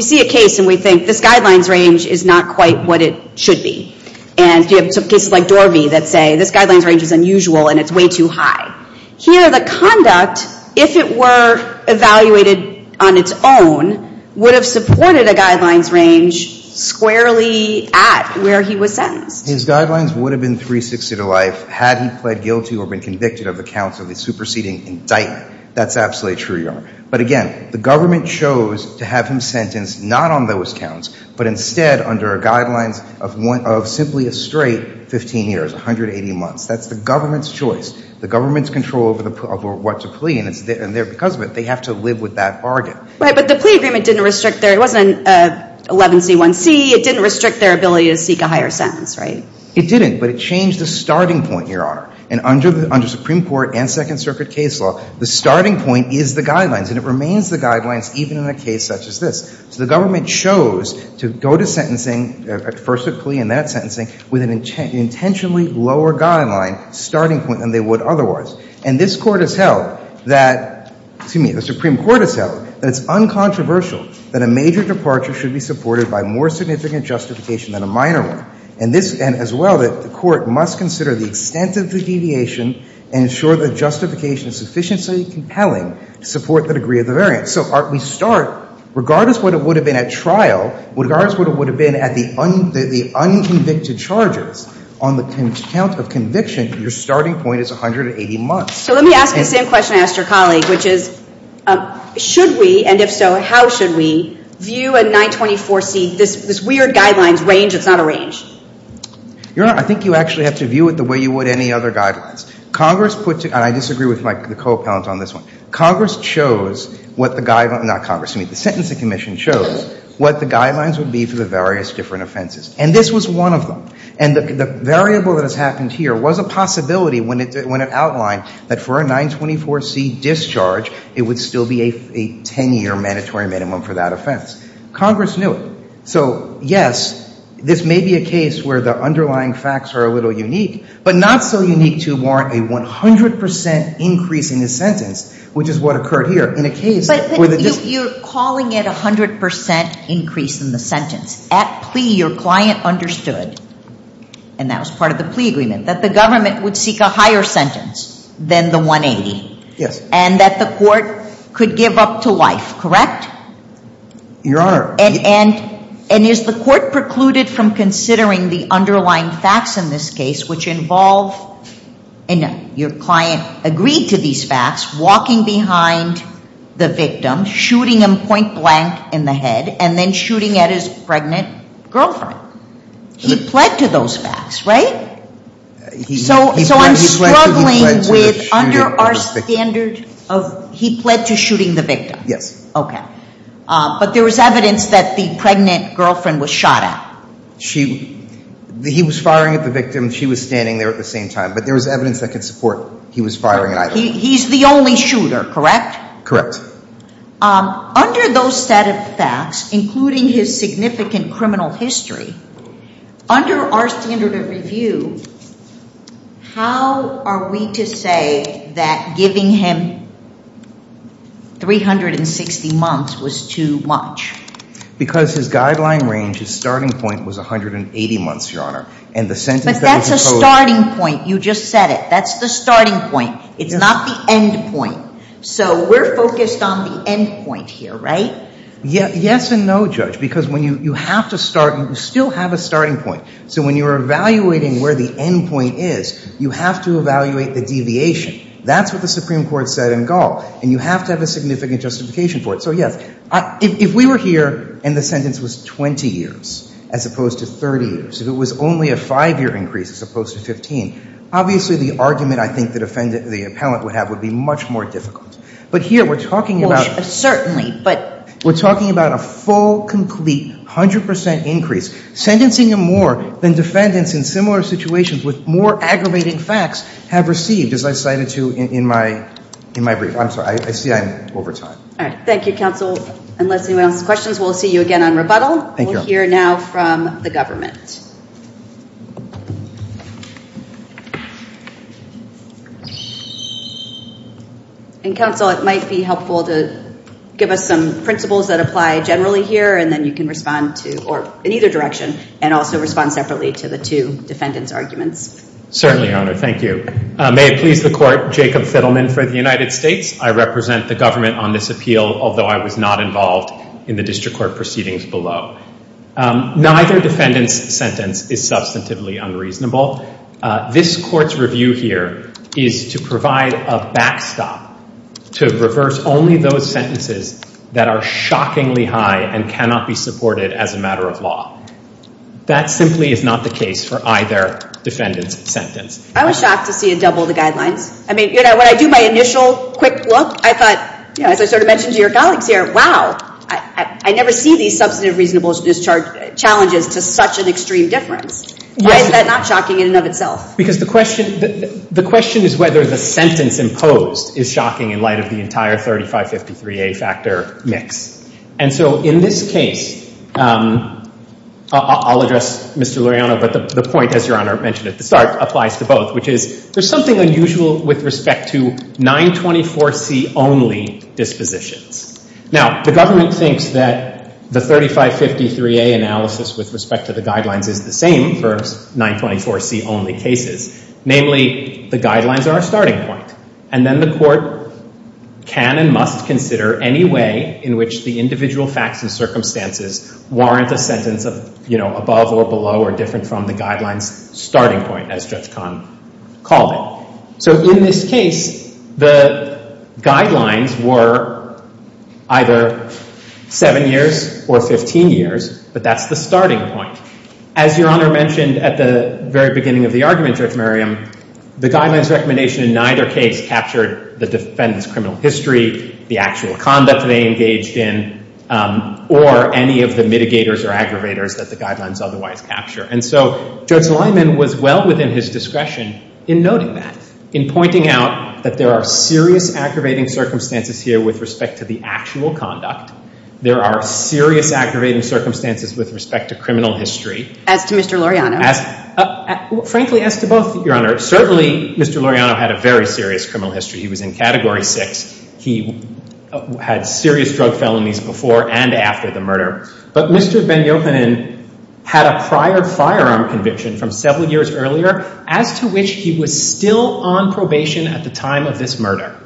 see a case and we think this guidelines range is not quite what it should be, and you have cases like Dorvey that say this guidelines range is unusual and it's way too high. Here, the conduct, if it were evaluated on its own, would have supported a guidelines range squarely at where he was sentenced. His guidelines would have been 360 to life had he pled guilty or been convicted of the counts of a superseding indictment. That's absolutely true, Your Honor. But, again, the government chose to have him sentenced not on those counts but instead under guidelines of simply a straight 15 years, 180 months. That's the government's choice. The government's control over what to plea, and because of it, they have to live with that bargain. Right, but the plea agreement didn't restrict their – it wasn't 11C1C. It didn't restrict their ability to seek a higher sentence, right? It didn't, but it changed the starting point, Your Honor. And under Supreme Court and Second Circuit case law, the starting point is the guidelines, and it remains the guidelines even in a case such as this. So the government chose to go to sentencing, at first a plea and then at sentencing, with an intentionally lower guideline starting point than they would otherwise. And this Court has held that – excuse me, the Supreme Court has held that it's uncontroversial that a major departure should be supported by more significant justification than a minor one. And this – and as well that the Court must consider the extent of the deviation and ensure that justification is sufficiently compelling to support the degree of the variance. So we start – regardless of what it would have been at trial, regardless of what it would have been at the unconvicted charges, on the count of conviction, your starting point is 180 months. So let me ask the same question I asked your colleague, which is should we, and if so, how should we, view a 924C, this weird guidelines range that's not a range? Your Honor, I think you actually have to view it the way you would any other guidelines. Congress put – and I disagree with my – the co-appellant on this one. Congress chose what the – not Congress, excuse me. The Sentencing Commission chose what the guidelines would be for the various different offenses. And this was one of them. And the variable that has happened here was a possibility when it outlined that for a 924C discharge, it would still be a 10-year mandatory minimum for that offense. Congress knew it. So, yes, this may be a case where the underlying facts are a little unique, but not so unique to warrant a 100 percent increase in the sentence, which is what occurred here. But you're calling it a 100 percent increase in the sentence. At plea, your client understood, and that was part of the plea agreement, that the government would seek a higher sentence than the 180. Yes. And that the court could give up to life, correct? Your Honor. And is the court precluded from considering the underlying facts in this case, which involve – and your client agreed to these facts, walking behind the victim, shooting him point-blank in the head, and then shooting at his pregnant girlfriend. He pled to those facts, right? So I'm struggling with under our standard of – he pled to shooting the victim. Yes. Okay. But there was evidence that the pregnant girlfriend was shot at. He was firing at the victim. She was standing there at the same time. But there was evidence that could support he was firing at either of them. He's the only shooter, correct? Correct. Under those set of facts, including his significant criminal history, under our standard of review, how are we to say that giving him 360 months was too much? Because his guideline range, his starting point, was 180 months, your Honor. But that's a starting point. You just said it. That's the starting point. It's not the end point. So we're focused on the end point here, right? Yes and no, Judge, because when you have to start, you still have a starting point. So when you're evaluating where the end point is, you have to evaluate the deviation. That's what the Supreme Court said in Gall. And you have to have a significant justification for it. So, yes, if we were here and the sentence was 20 years as opposed to 30 years, if it was only a five-year increase as opposed to 15, obviously the argument I think the appellant would have would be much more difficult. But here we're talking about a full, complete, 100 percent increase, sentencing him more than defendants in similar situations with more aggravating facts have received, as I cited to you in my brief. I'm sorry. I see I'm over time. All right. Thank you, counsel. Unless anyone else has questions, we'll see you again on rebuttal. Thank you, Your Honor. We'll hear now from the government. And, counsel, it might be helpful to give us some principles that apply generally here, and then you can respond to, or in either direction, and also respond separately to the two defendants' arguments. Certainly, Your Honor. Thank you. May it please the Court, Jacob Fiddleman for the United States. I represent the government on this appeal, although I was not involved in the district court proceedings below. Neither defendant's sentence is substantively unreasonable. This Court's review here is to provide a backstop to reverse only those sentences that are shockingly high and cannot be supported as a matter of law. That simply is not the case for either defendant's sentence. I was shocked to see it double the guidelines. I mean, you know, when I do my initial quick look, I thought, you know, as I sort of mentioned to your colleagues here, wow, I never see these substantive reasonable challenges to such an extreme difference. Why is that not shocking in and of itself? Because the question is whether the sentence imposed is shocking in light of the entire 3553A factor mix. And so in this case, I'll address Mr. Luriano, but the point, as Your Honor mentioned at the start, applies to both, which is there's something unusual with respect to 924C-only dispositions. Now, the government thinks that the 3553A analysis with respect to the guidelines is the same for 924C-only cases. Namely, the guidelines are a starting point. And then the Court can and must consider any way in which the individual facts and circumstances warrant a sentence of, you know, above or below or different from the guidelines starting point, as Judge Kahn called it. So in this case, the guidelines were either 7 years or 15 years, but that's the starting point. As Your Honor mentioned at the very beginning of the argument, Judge Merriam, the guidelines recommendation in neither case captured the defendant's criminal history, the actual conduct they engaged in, or any of the mitigators or aggravators that the guidelines otherwise capture. And so Judge Lyman was well within his discretion in noting that, in pointing out that there are serious aggravating circumstances here with respect to the actual conduct. There are serious aggravating circumstances with respect to criminal history. As to Mr. Luriano? Frankly, as to both, Your Honor. Certainly, Mr. Luriano had a very serious criminal history. He was in Category 6. He had serious drug felonies before and after the murder. But Mr. Ben-Yochanan had a prior firearm conviction from several years earlier, as to which he was still on probation at the time of this murder.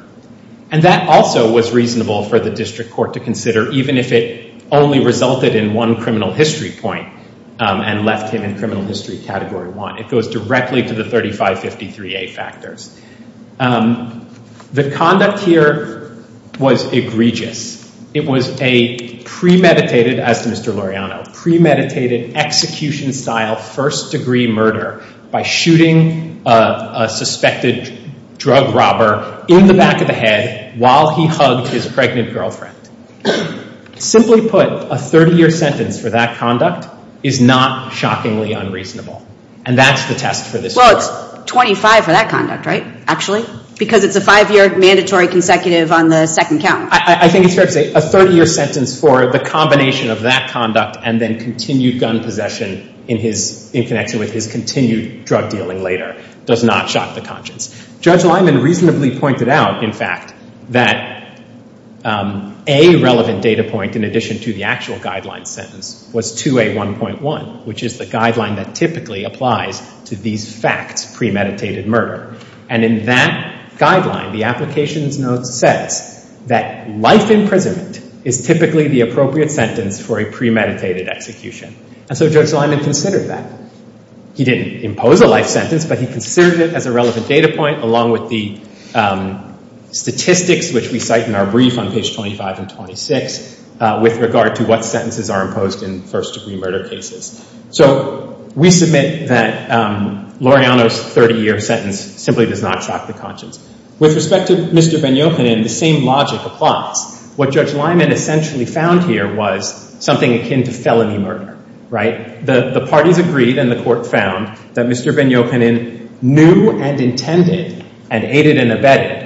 And that also was reasonable for the district court to consider, even if it only resulted in one criminal history point and left him in criminal history Category 1. It goes directly to the 3553A factors. The conduct here was egregious. It was a premeditated, as to Mr. Luriano, premeditated execution-style first-degree murder by shooting a suspected drug robber in the back of the head while he hugged his pregnant girlfriend. Simply put, a 30-year sentence for that conduct is not shockingly unreasonable. And that's the test for this court. Well, it's 25 for that conduct, right, actually? Because it's a five-year mandatory consecutive on the second count. I think it's fair to say a 30-year sentence for the combination of that conduct and then continued gun possession in connection with his continued drug-dealing later does not shock the conscience. Judge Lyman reasonably pointed out, in fact, that a relevant data point in addition to the actual guideline sentence was 2A1.1, which is the guideline that typically applies to these facts premeditated murder. And in that guideline, the applications note says that life imprisonment is typically the appropriate sentence for a premeditated execution. And so Judge Lyman considered that. He didn't impose a life sentence, but he considered it as a relevant data point along with the statistics which we cite in our brief on page 25 and 26 with regard to what sentences are imposed in first-degree murder cases. So we submit that Laureano's 30-year sentence simply does not shock the conscience. With respect to Mr. Ben-Yochanan, the same logic applies. What Judge Lyman essentially found here was something akin to felony murder, right? The parties agreed and the court found that Mr. Ben-Yochanan knew and intended and aided and abetted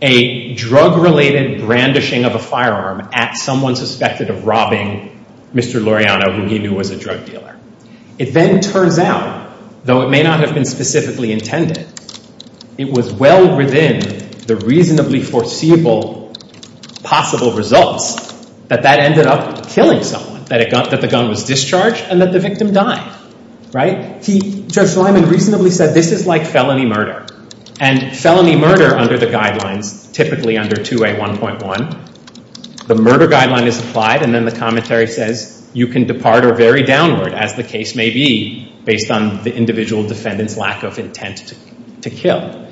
a drug-related brandishing of a firearm at someone suspected of robbing Mr. Laureano, who he knew was a drug dealer. It then turns out, though it may not have been specifically intended, it was well within the reasonably foreseeable possible results that that ended up killing someone, that the gun was discharged and that the victim died, right? Judge Lyman reasonably said this is like felony murder. And felony murder under the guidelines, typically under 2A1.1, the murder guideline is applied and then the commentary says you can depart or vary downward as the case may be based on the individual defendant's lack of intent to kill.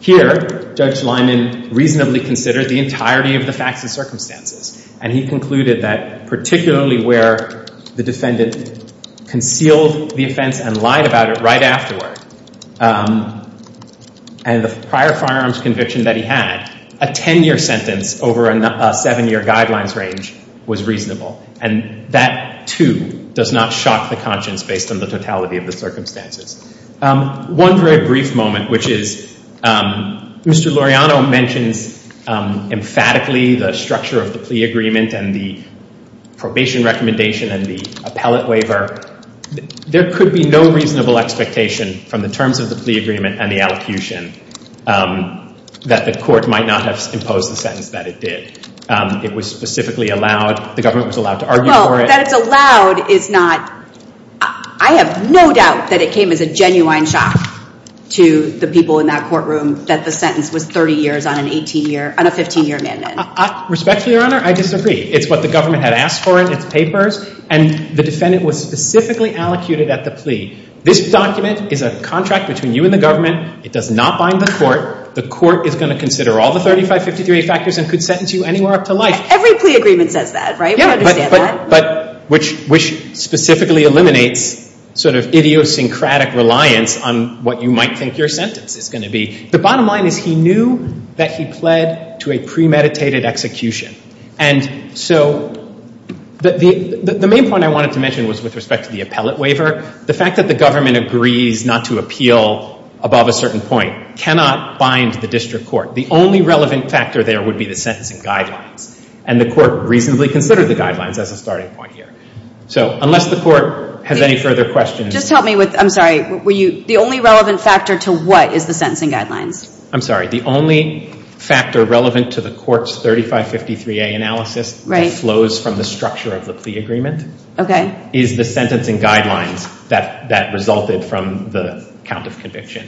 Here, Judge Lyman reasonably considered the entirety of the facts and circumstances and he concluded that particularly where the defendant concealed the offense and lied about it right afterward and the prior firearms conviction that he had, a 10-year sentence over a 7-year guidelines range was reasonable. And that, too, does not shock the conscience based on the totality of the circumstances. One very brief moment, which is Mr. Laureano mentions emphatically the structure of the plea agreement and the probation recommendation and the appellate waiver. There could be no reasonable expectation from the terms of the plea agreement and the allocution that the court might not have imposed the sentence that it did. It was specifically allowed, the government was allowed to argue for it. Well, that it's allowed is not, I have no doubt that it came as a genuine shock to the people in that courtroom that the sentence was 30 years on an 18-year, on a 15-year amendment. Respectfully, Your Honor, I disagree. It's what the government had asked for in its papers and the defendant was specifically allocated at the plea. This document is a contract between you and the government. It does not bind the court. The court is going to consider all the 3553A factors and could sentence you anywhere up to life. Every plea agreement says that, right? Yeah. We understand that. But which specifically eliminates sort of idiosyncratic reliance on what you might think your sentence is going to be. The bottom line is he knew that he pled to a premeditated execution. And so the main point I wanted to mention was with respect to the appellate waiver, the fact that the government agrees not to appeal above a certain point cannot bind the district court. The only relevant factor there would be the sentencing guidelines. And the court reasonably considered the guidelines as a starting point here. So unless the court has any further questions. Just help me with, I'm sorry, were you, the only relevant factor to what is the sentencing guidelines? I'm sorry. The only factor relevant to the court's 3553A analysis that flows from the structure of the plea agreement is the sentencing guidelines that resulted from the count of conviction.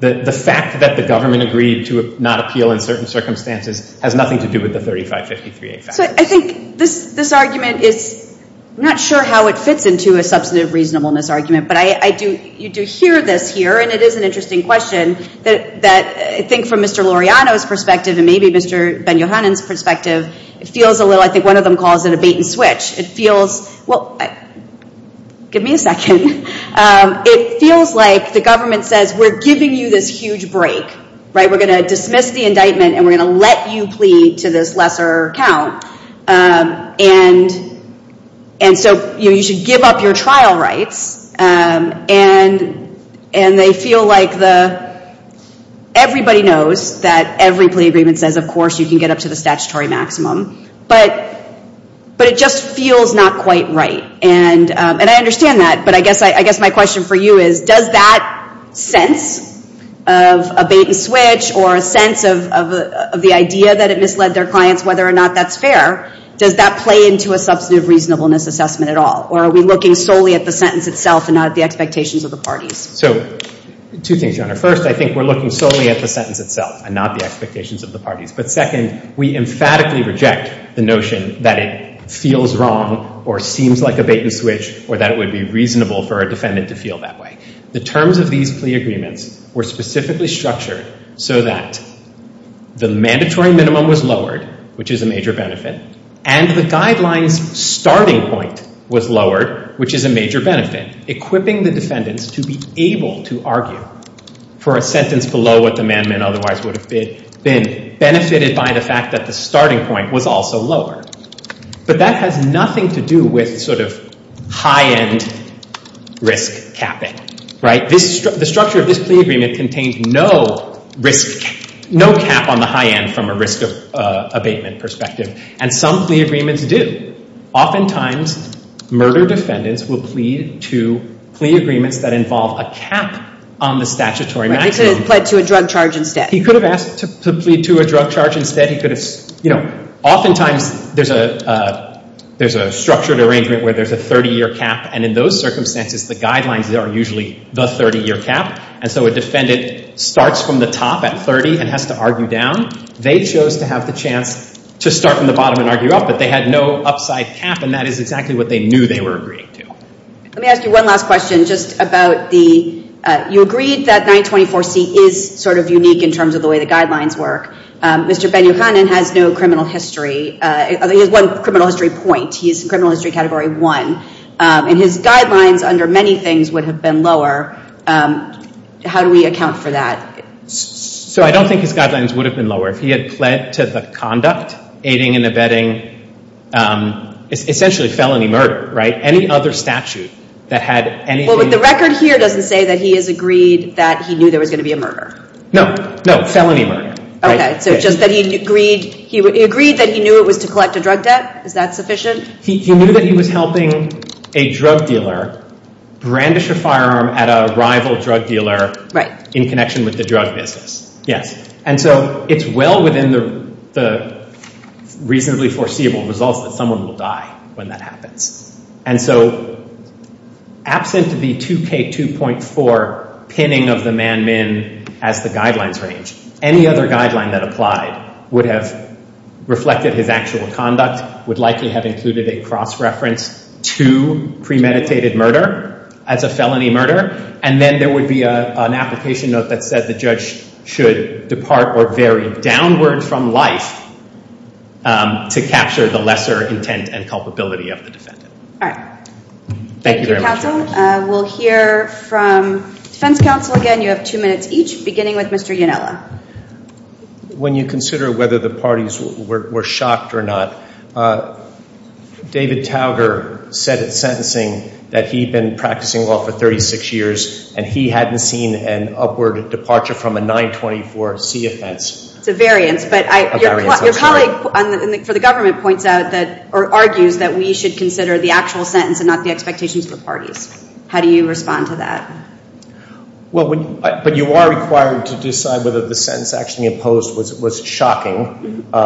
The fact that the government agreed to not appeal in certain circumstances has nothing to do with the 3553A factors. So I think this argument is, I'm not sure how it fits into a substantive reasonableness argument, but you do hear this here, and it is an interesting question, that I think from Mr. Laureano's perspective and maybe Mr. Ben-Yohanan's perspective, it feels a little, I think one of them calls it a bait and switch. It feels, well, give me a second. It feels like the government says, we're giving you this huge break, right? We're going to dismiss the indictment and we're going to let you plead to this lesser count. And so you should give up your trial rights. And they feel like the, everybody knows that every plea agreement says, of course you can get up to the statutory maximum, but it just feels not quite right. And I understand that, but I guess my question for you is, does that sense of a bait and switch or a sense of the idea that it misled their clients, whether or not that's fair, does that play into a substantive reasonableness assessment at all? Or are we looking solely at the sentence itself and not at the expectations of the parties? So two things, Your Honor. First, I think we're looking solely at the sentence itself and not the expectations of the parties. But second, we emphatically reject the notion that it feels wrong or seems like a bait and switch or that it would be reasonable for a defendant to feel that way. The terms of these plea agreements were specifically structured so that the mandatory minimum was lowered, which is a major benefit, and the guidelines starting point was lowered, which is a major benefit, equipping the defendants to be able to argue for a sentence below what the amendment otherwise would have been, benefited by the fact that the starting point was also lowered. But that has nothing to do with sort of high-end risk capping. The structure of this plea agreement contains no risk cap, no cap on the high end from a risk abatement perspective. And some plea agreements do. Oftentimes, murder defendants will plead to plea agreements that involve a cap on the statutory maximum. Right, they could have pled to a drug charge instead. He could have asked to plead to a drug charge instead. He could have, you know... Oftentimes, there's a structured arrangement where there's a 30-year cap, and in those circumstances, the guidelines are usually the 30-year cap. And so a defendant starts from the top at 30 and has to argue down. They chose to have the chance to start from the bottom and argue up, but they had no upside cap, and that is exactly what they knew they were agreeing to. Let me ask you one last question just about the... You agreed that 924C is sort of unique in terms of the way the guidelines work. Mr. Ben-Yohanan has no criminal history. He has one criminal history point. He is in criminal history category 1. And his guidelines under many things would have been lower. How do we account for that? So I don't think his guidelines would have been lower. If he had pled to the conduct, aiding and abetting, essentially felony murder, right? Any other statute that had anything... Well, but the record here doesn't say that he has agreed that he knew there was going to be a murder. No, no, felony murder. Okay, so just that he agreed... He agreed that he knew it was to collect a drug debt. Is that sufficient? He knew that he was helping a drug dealer brandish a firearm at a rival drug dealer in connection with the drug business, yes. And so it's well within the reasonably foreseeable results that someone will die when that happens. And so absent the 2K2.4 pinning of the man-min as the guidelines range, any other guideline that applied would have reflected his actual conduct, would likely have included a cross-reference to premeditated murder as a felony murder, and then there would be an application note that said the judge should depart or vary downward from life to capture the lesser intent and culpability of the defendant. All right. Thank you very much. Thank you, counsel. We'll hear from defense counsel again. You have two minutes each, beginning with Mr. Yunella. When you consider whether the parties were shocked or not, David Tauger said at sentencing that he'd been practicing law for 36 years and he hadn't seen an upward departure from a 924C offense. It's a variance, but your colleague for the government argues that we should consider the actual sentence and not the expectations of the parties. How do you respond to that? But you are required to decide whether the sentence actually imposed was shocking. To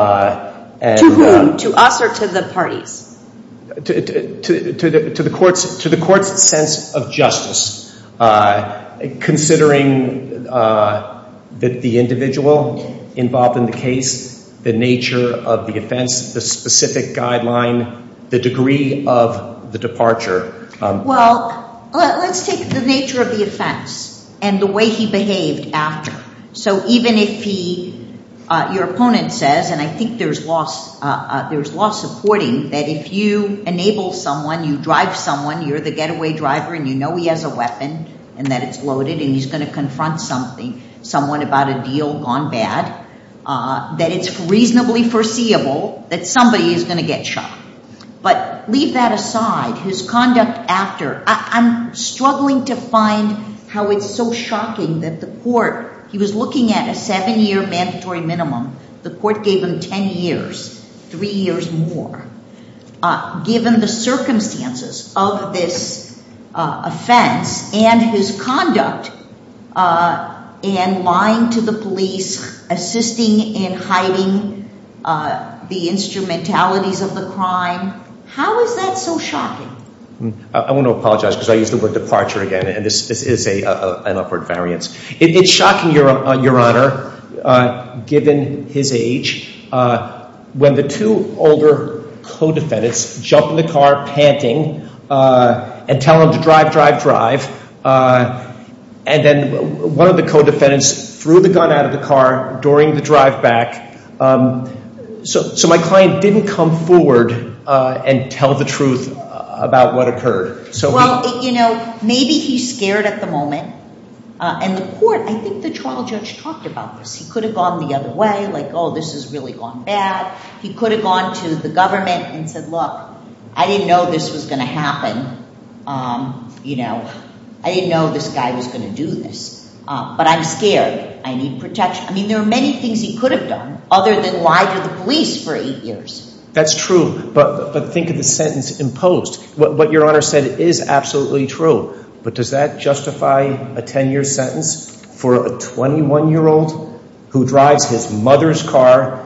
whom? To us or to the parties? To the court's sense of justice, considering the individual involved in the case, the nature of the offense, the specific guideline, the degree of the departure. Well, let's take the nature of the offense and the way he behaved after. So even if your opponent says, and I think there's law supporting, that if you enable someone, you drive someone, you're the getaway driver and you know he has a weapon and that it's loaded and he's going to confront something, someone about a deal gone bad, that it's reasonably foreseeable that somebody is going to get shocked. But leave that aside. His conduct after, I'm struggling to find how it's so shocking that the court, he was looking at a seven-year mandatory minimum. The court gave him 10 years, three years more. Given the circumstances of this offense and his conduct in lying to the police, assisting in hiding the instrumentalities of the crime, how is that so shocking? I want to apologize because I used the word departure again and this is an upward variance. It's shocking, Your Honor, given his age, when the two older co-defendants jump in the car panting and tell him to drive, drive, drive. And then one of the co-defendants threw the gun out of the car during the drive back. So my client didn't come forward and tell the truth about what occurred. Well, you know, maybe he's scared at the moment. And the court, I think the trial judge talked about this. He could have gone the other way, like, oh, this has really gone bad. He could have gone to the government and said, look, I didn't know this was going to happen. You know, I didn't know this guy was going to do this. But I'm scared. I need protection. I mean, there are many things he could have done other than lie to the police for eight years. That's true, but think of the sentence imposed. What Your Honor said is absolutely true. But does that justify a 10-year sentence for a 21-year-old who drives his mother's car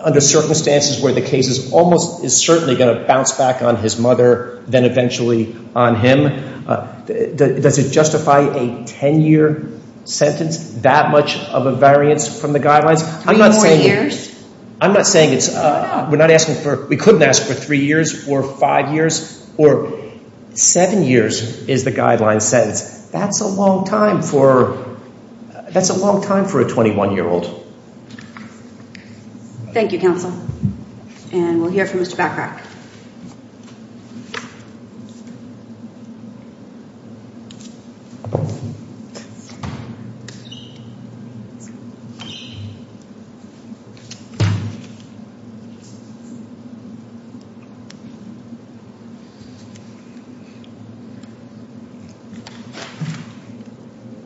under circumstances where the case is almost, is certainly going to bounce back on his mother then eventually on him? Does it justify a 10-year sentence, that much of a variance from the guidelines? Three more years? I'm not saying it's, we're not asking for, we couldn't ask for three years or five years or seven years is the guideline sentence. That's a long time for, that's a long time for a 21-year-old. Thank you, Counsel. And we'll hear from Mr. Bachrach.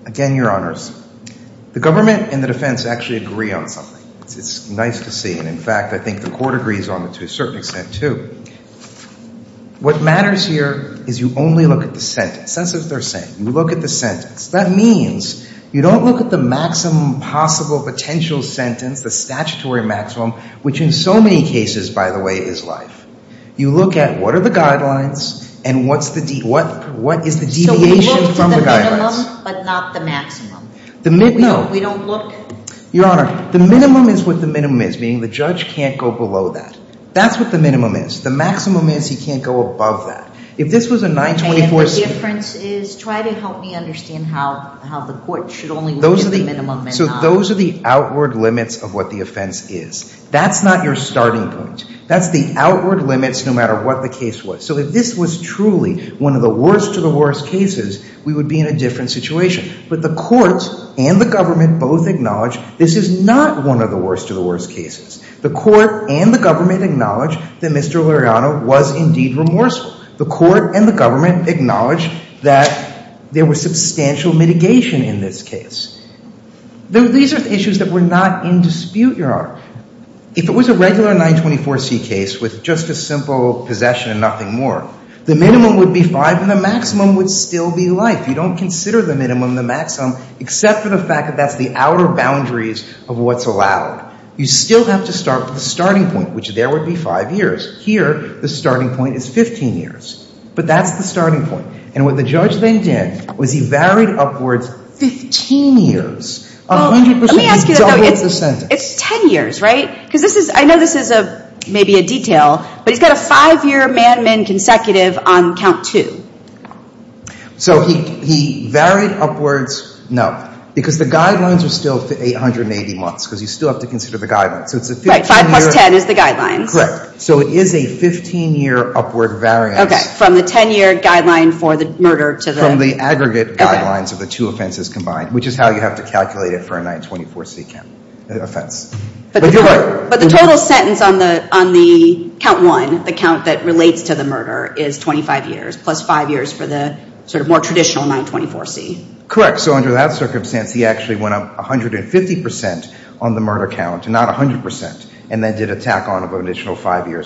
Again, Your Honors, the government and the defense actually agree on something. It's nice to see. And in fact, I think the court agrees on it to a certain extent, too. What matters here is you only look at the sentence. That's what they're saying. You look at the sentence. That means you don't look at the maximum possible potential sentence, the statutory maximum, which in so many cases, by the way, is life. You look at what are the guidelines, and what is the deviation from the guidelines? So we look to the minimum, but not the maximum. No. We don't look? Your Honor, the minimum is what the minimum is, meaning the judge can't go below that. That's what the minimum is. The maximum is he can't go above that. If this was a 924C... Okay, and the difference is, try to help me understand how the court should only look at the minimum and not... So those are the outward limits of what the offense is. That's not your starting point. That's the outward limits, no matter what the case was. So if this was truly one of the worst of the worst cases, we would be in a different situation. But the court and the government both acknowledge this is not one of the worst of the worst cases. The court and the government acknowledge that Mr. Luriano was indeed remorseful. The court and the government acknowledge that there was substantial mitigation in this case. These are issues that were not in dispute, Your Honor. If it was a regular 924C case with just a simple possession and nothing more, the minimum would be five, and the maximum would still be life. You don't consider the minimum, the maximum, except for the fact that that's the outer boundaries of what's allowed. You still have to start with the starting point, which there would be five years. Here, the starting point is 15 years. But that's the starting point. And what the judge then did was he varied upwards 15 years. A hundred percent, he doubled the sentence. It's 10 years, right? Because this is, I know this is maybe a detail, but he's got a five-year man-to-man consecutive on count two. So he varied upwards, no, because the guidelines are still for 880 months, because you still have to consider the guidelines. So it's a 15-year... Right, five plus 10 is the guidelines. Correct. So it is a 15-year upward variance. Okay, from the 10-year guideline for the murder to the... From the aggregate guidelines of the two offenses combined, which is how you have to calculate it for a 924C offense. But the total sentence on the count one, the count that relates to the murder, is 25 years plus five years for the sort of more traditional 924C. Correct. So under that circumstance, he actually went up 150 percent on the murder count, not 100 percent, and then did a tack-on of an additional five years.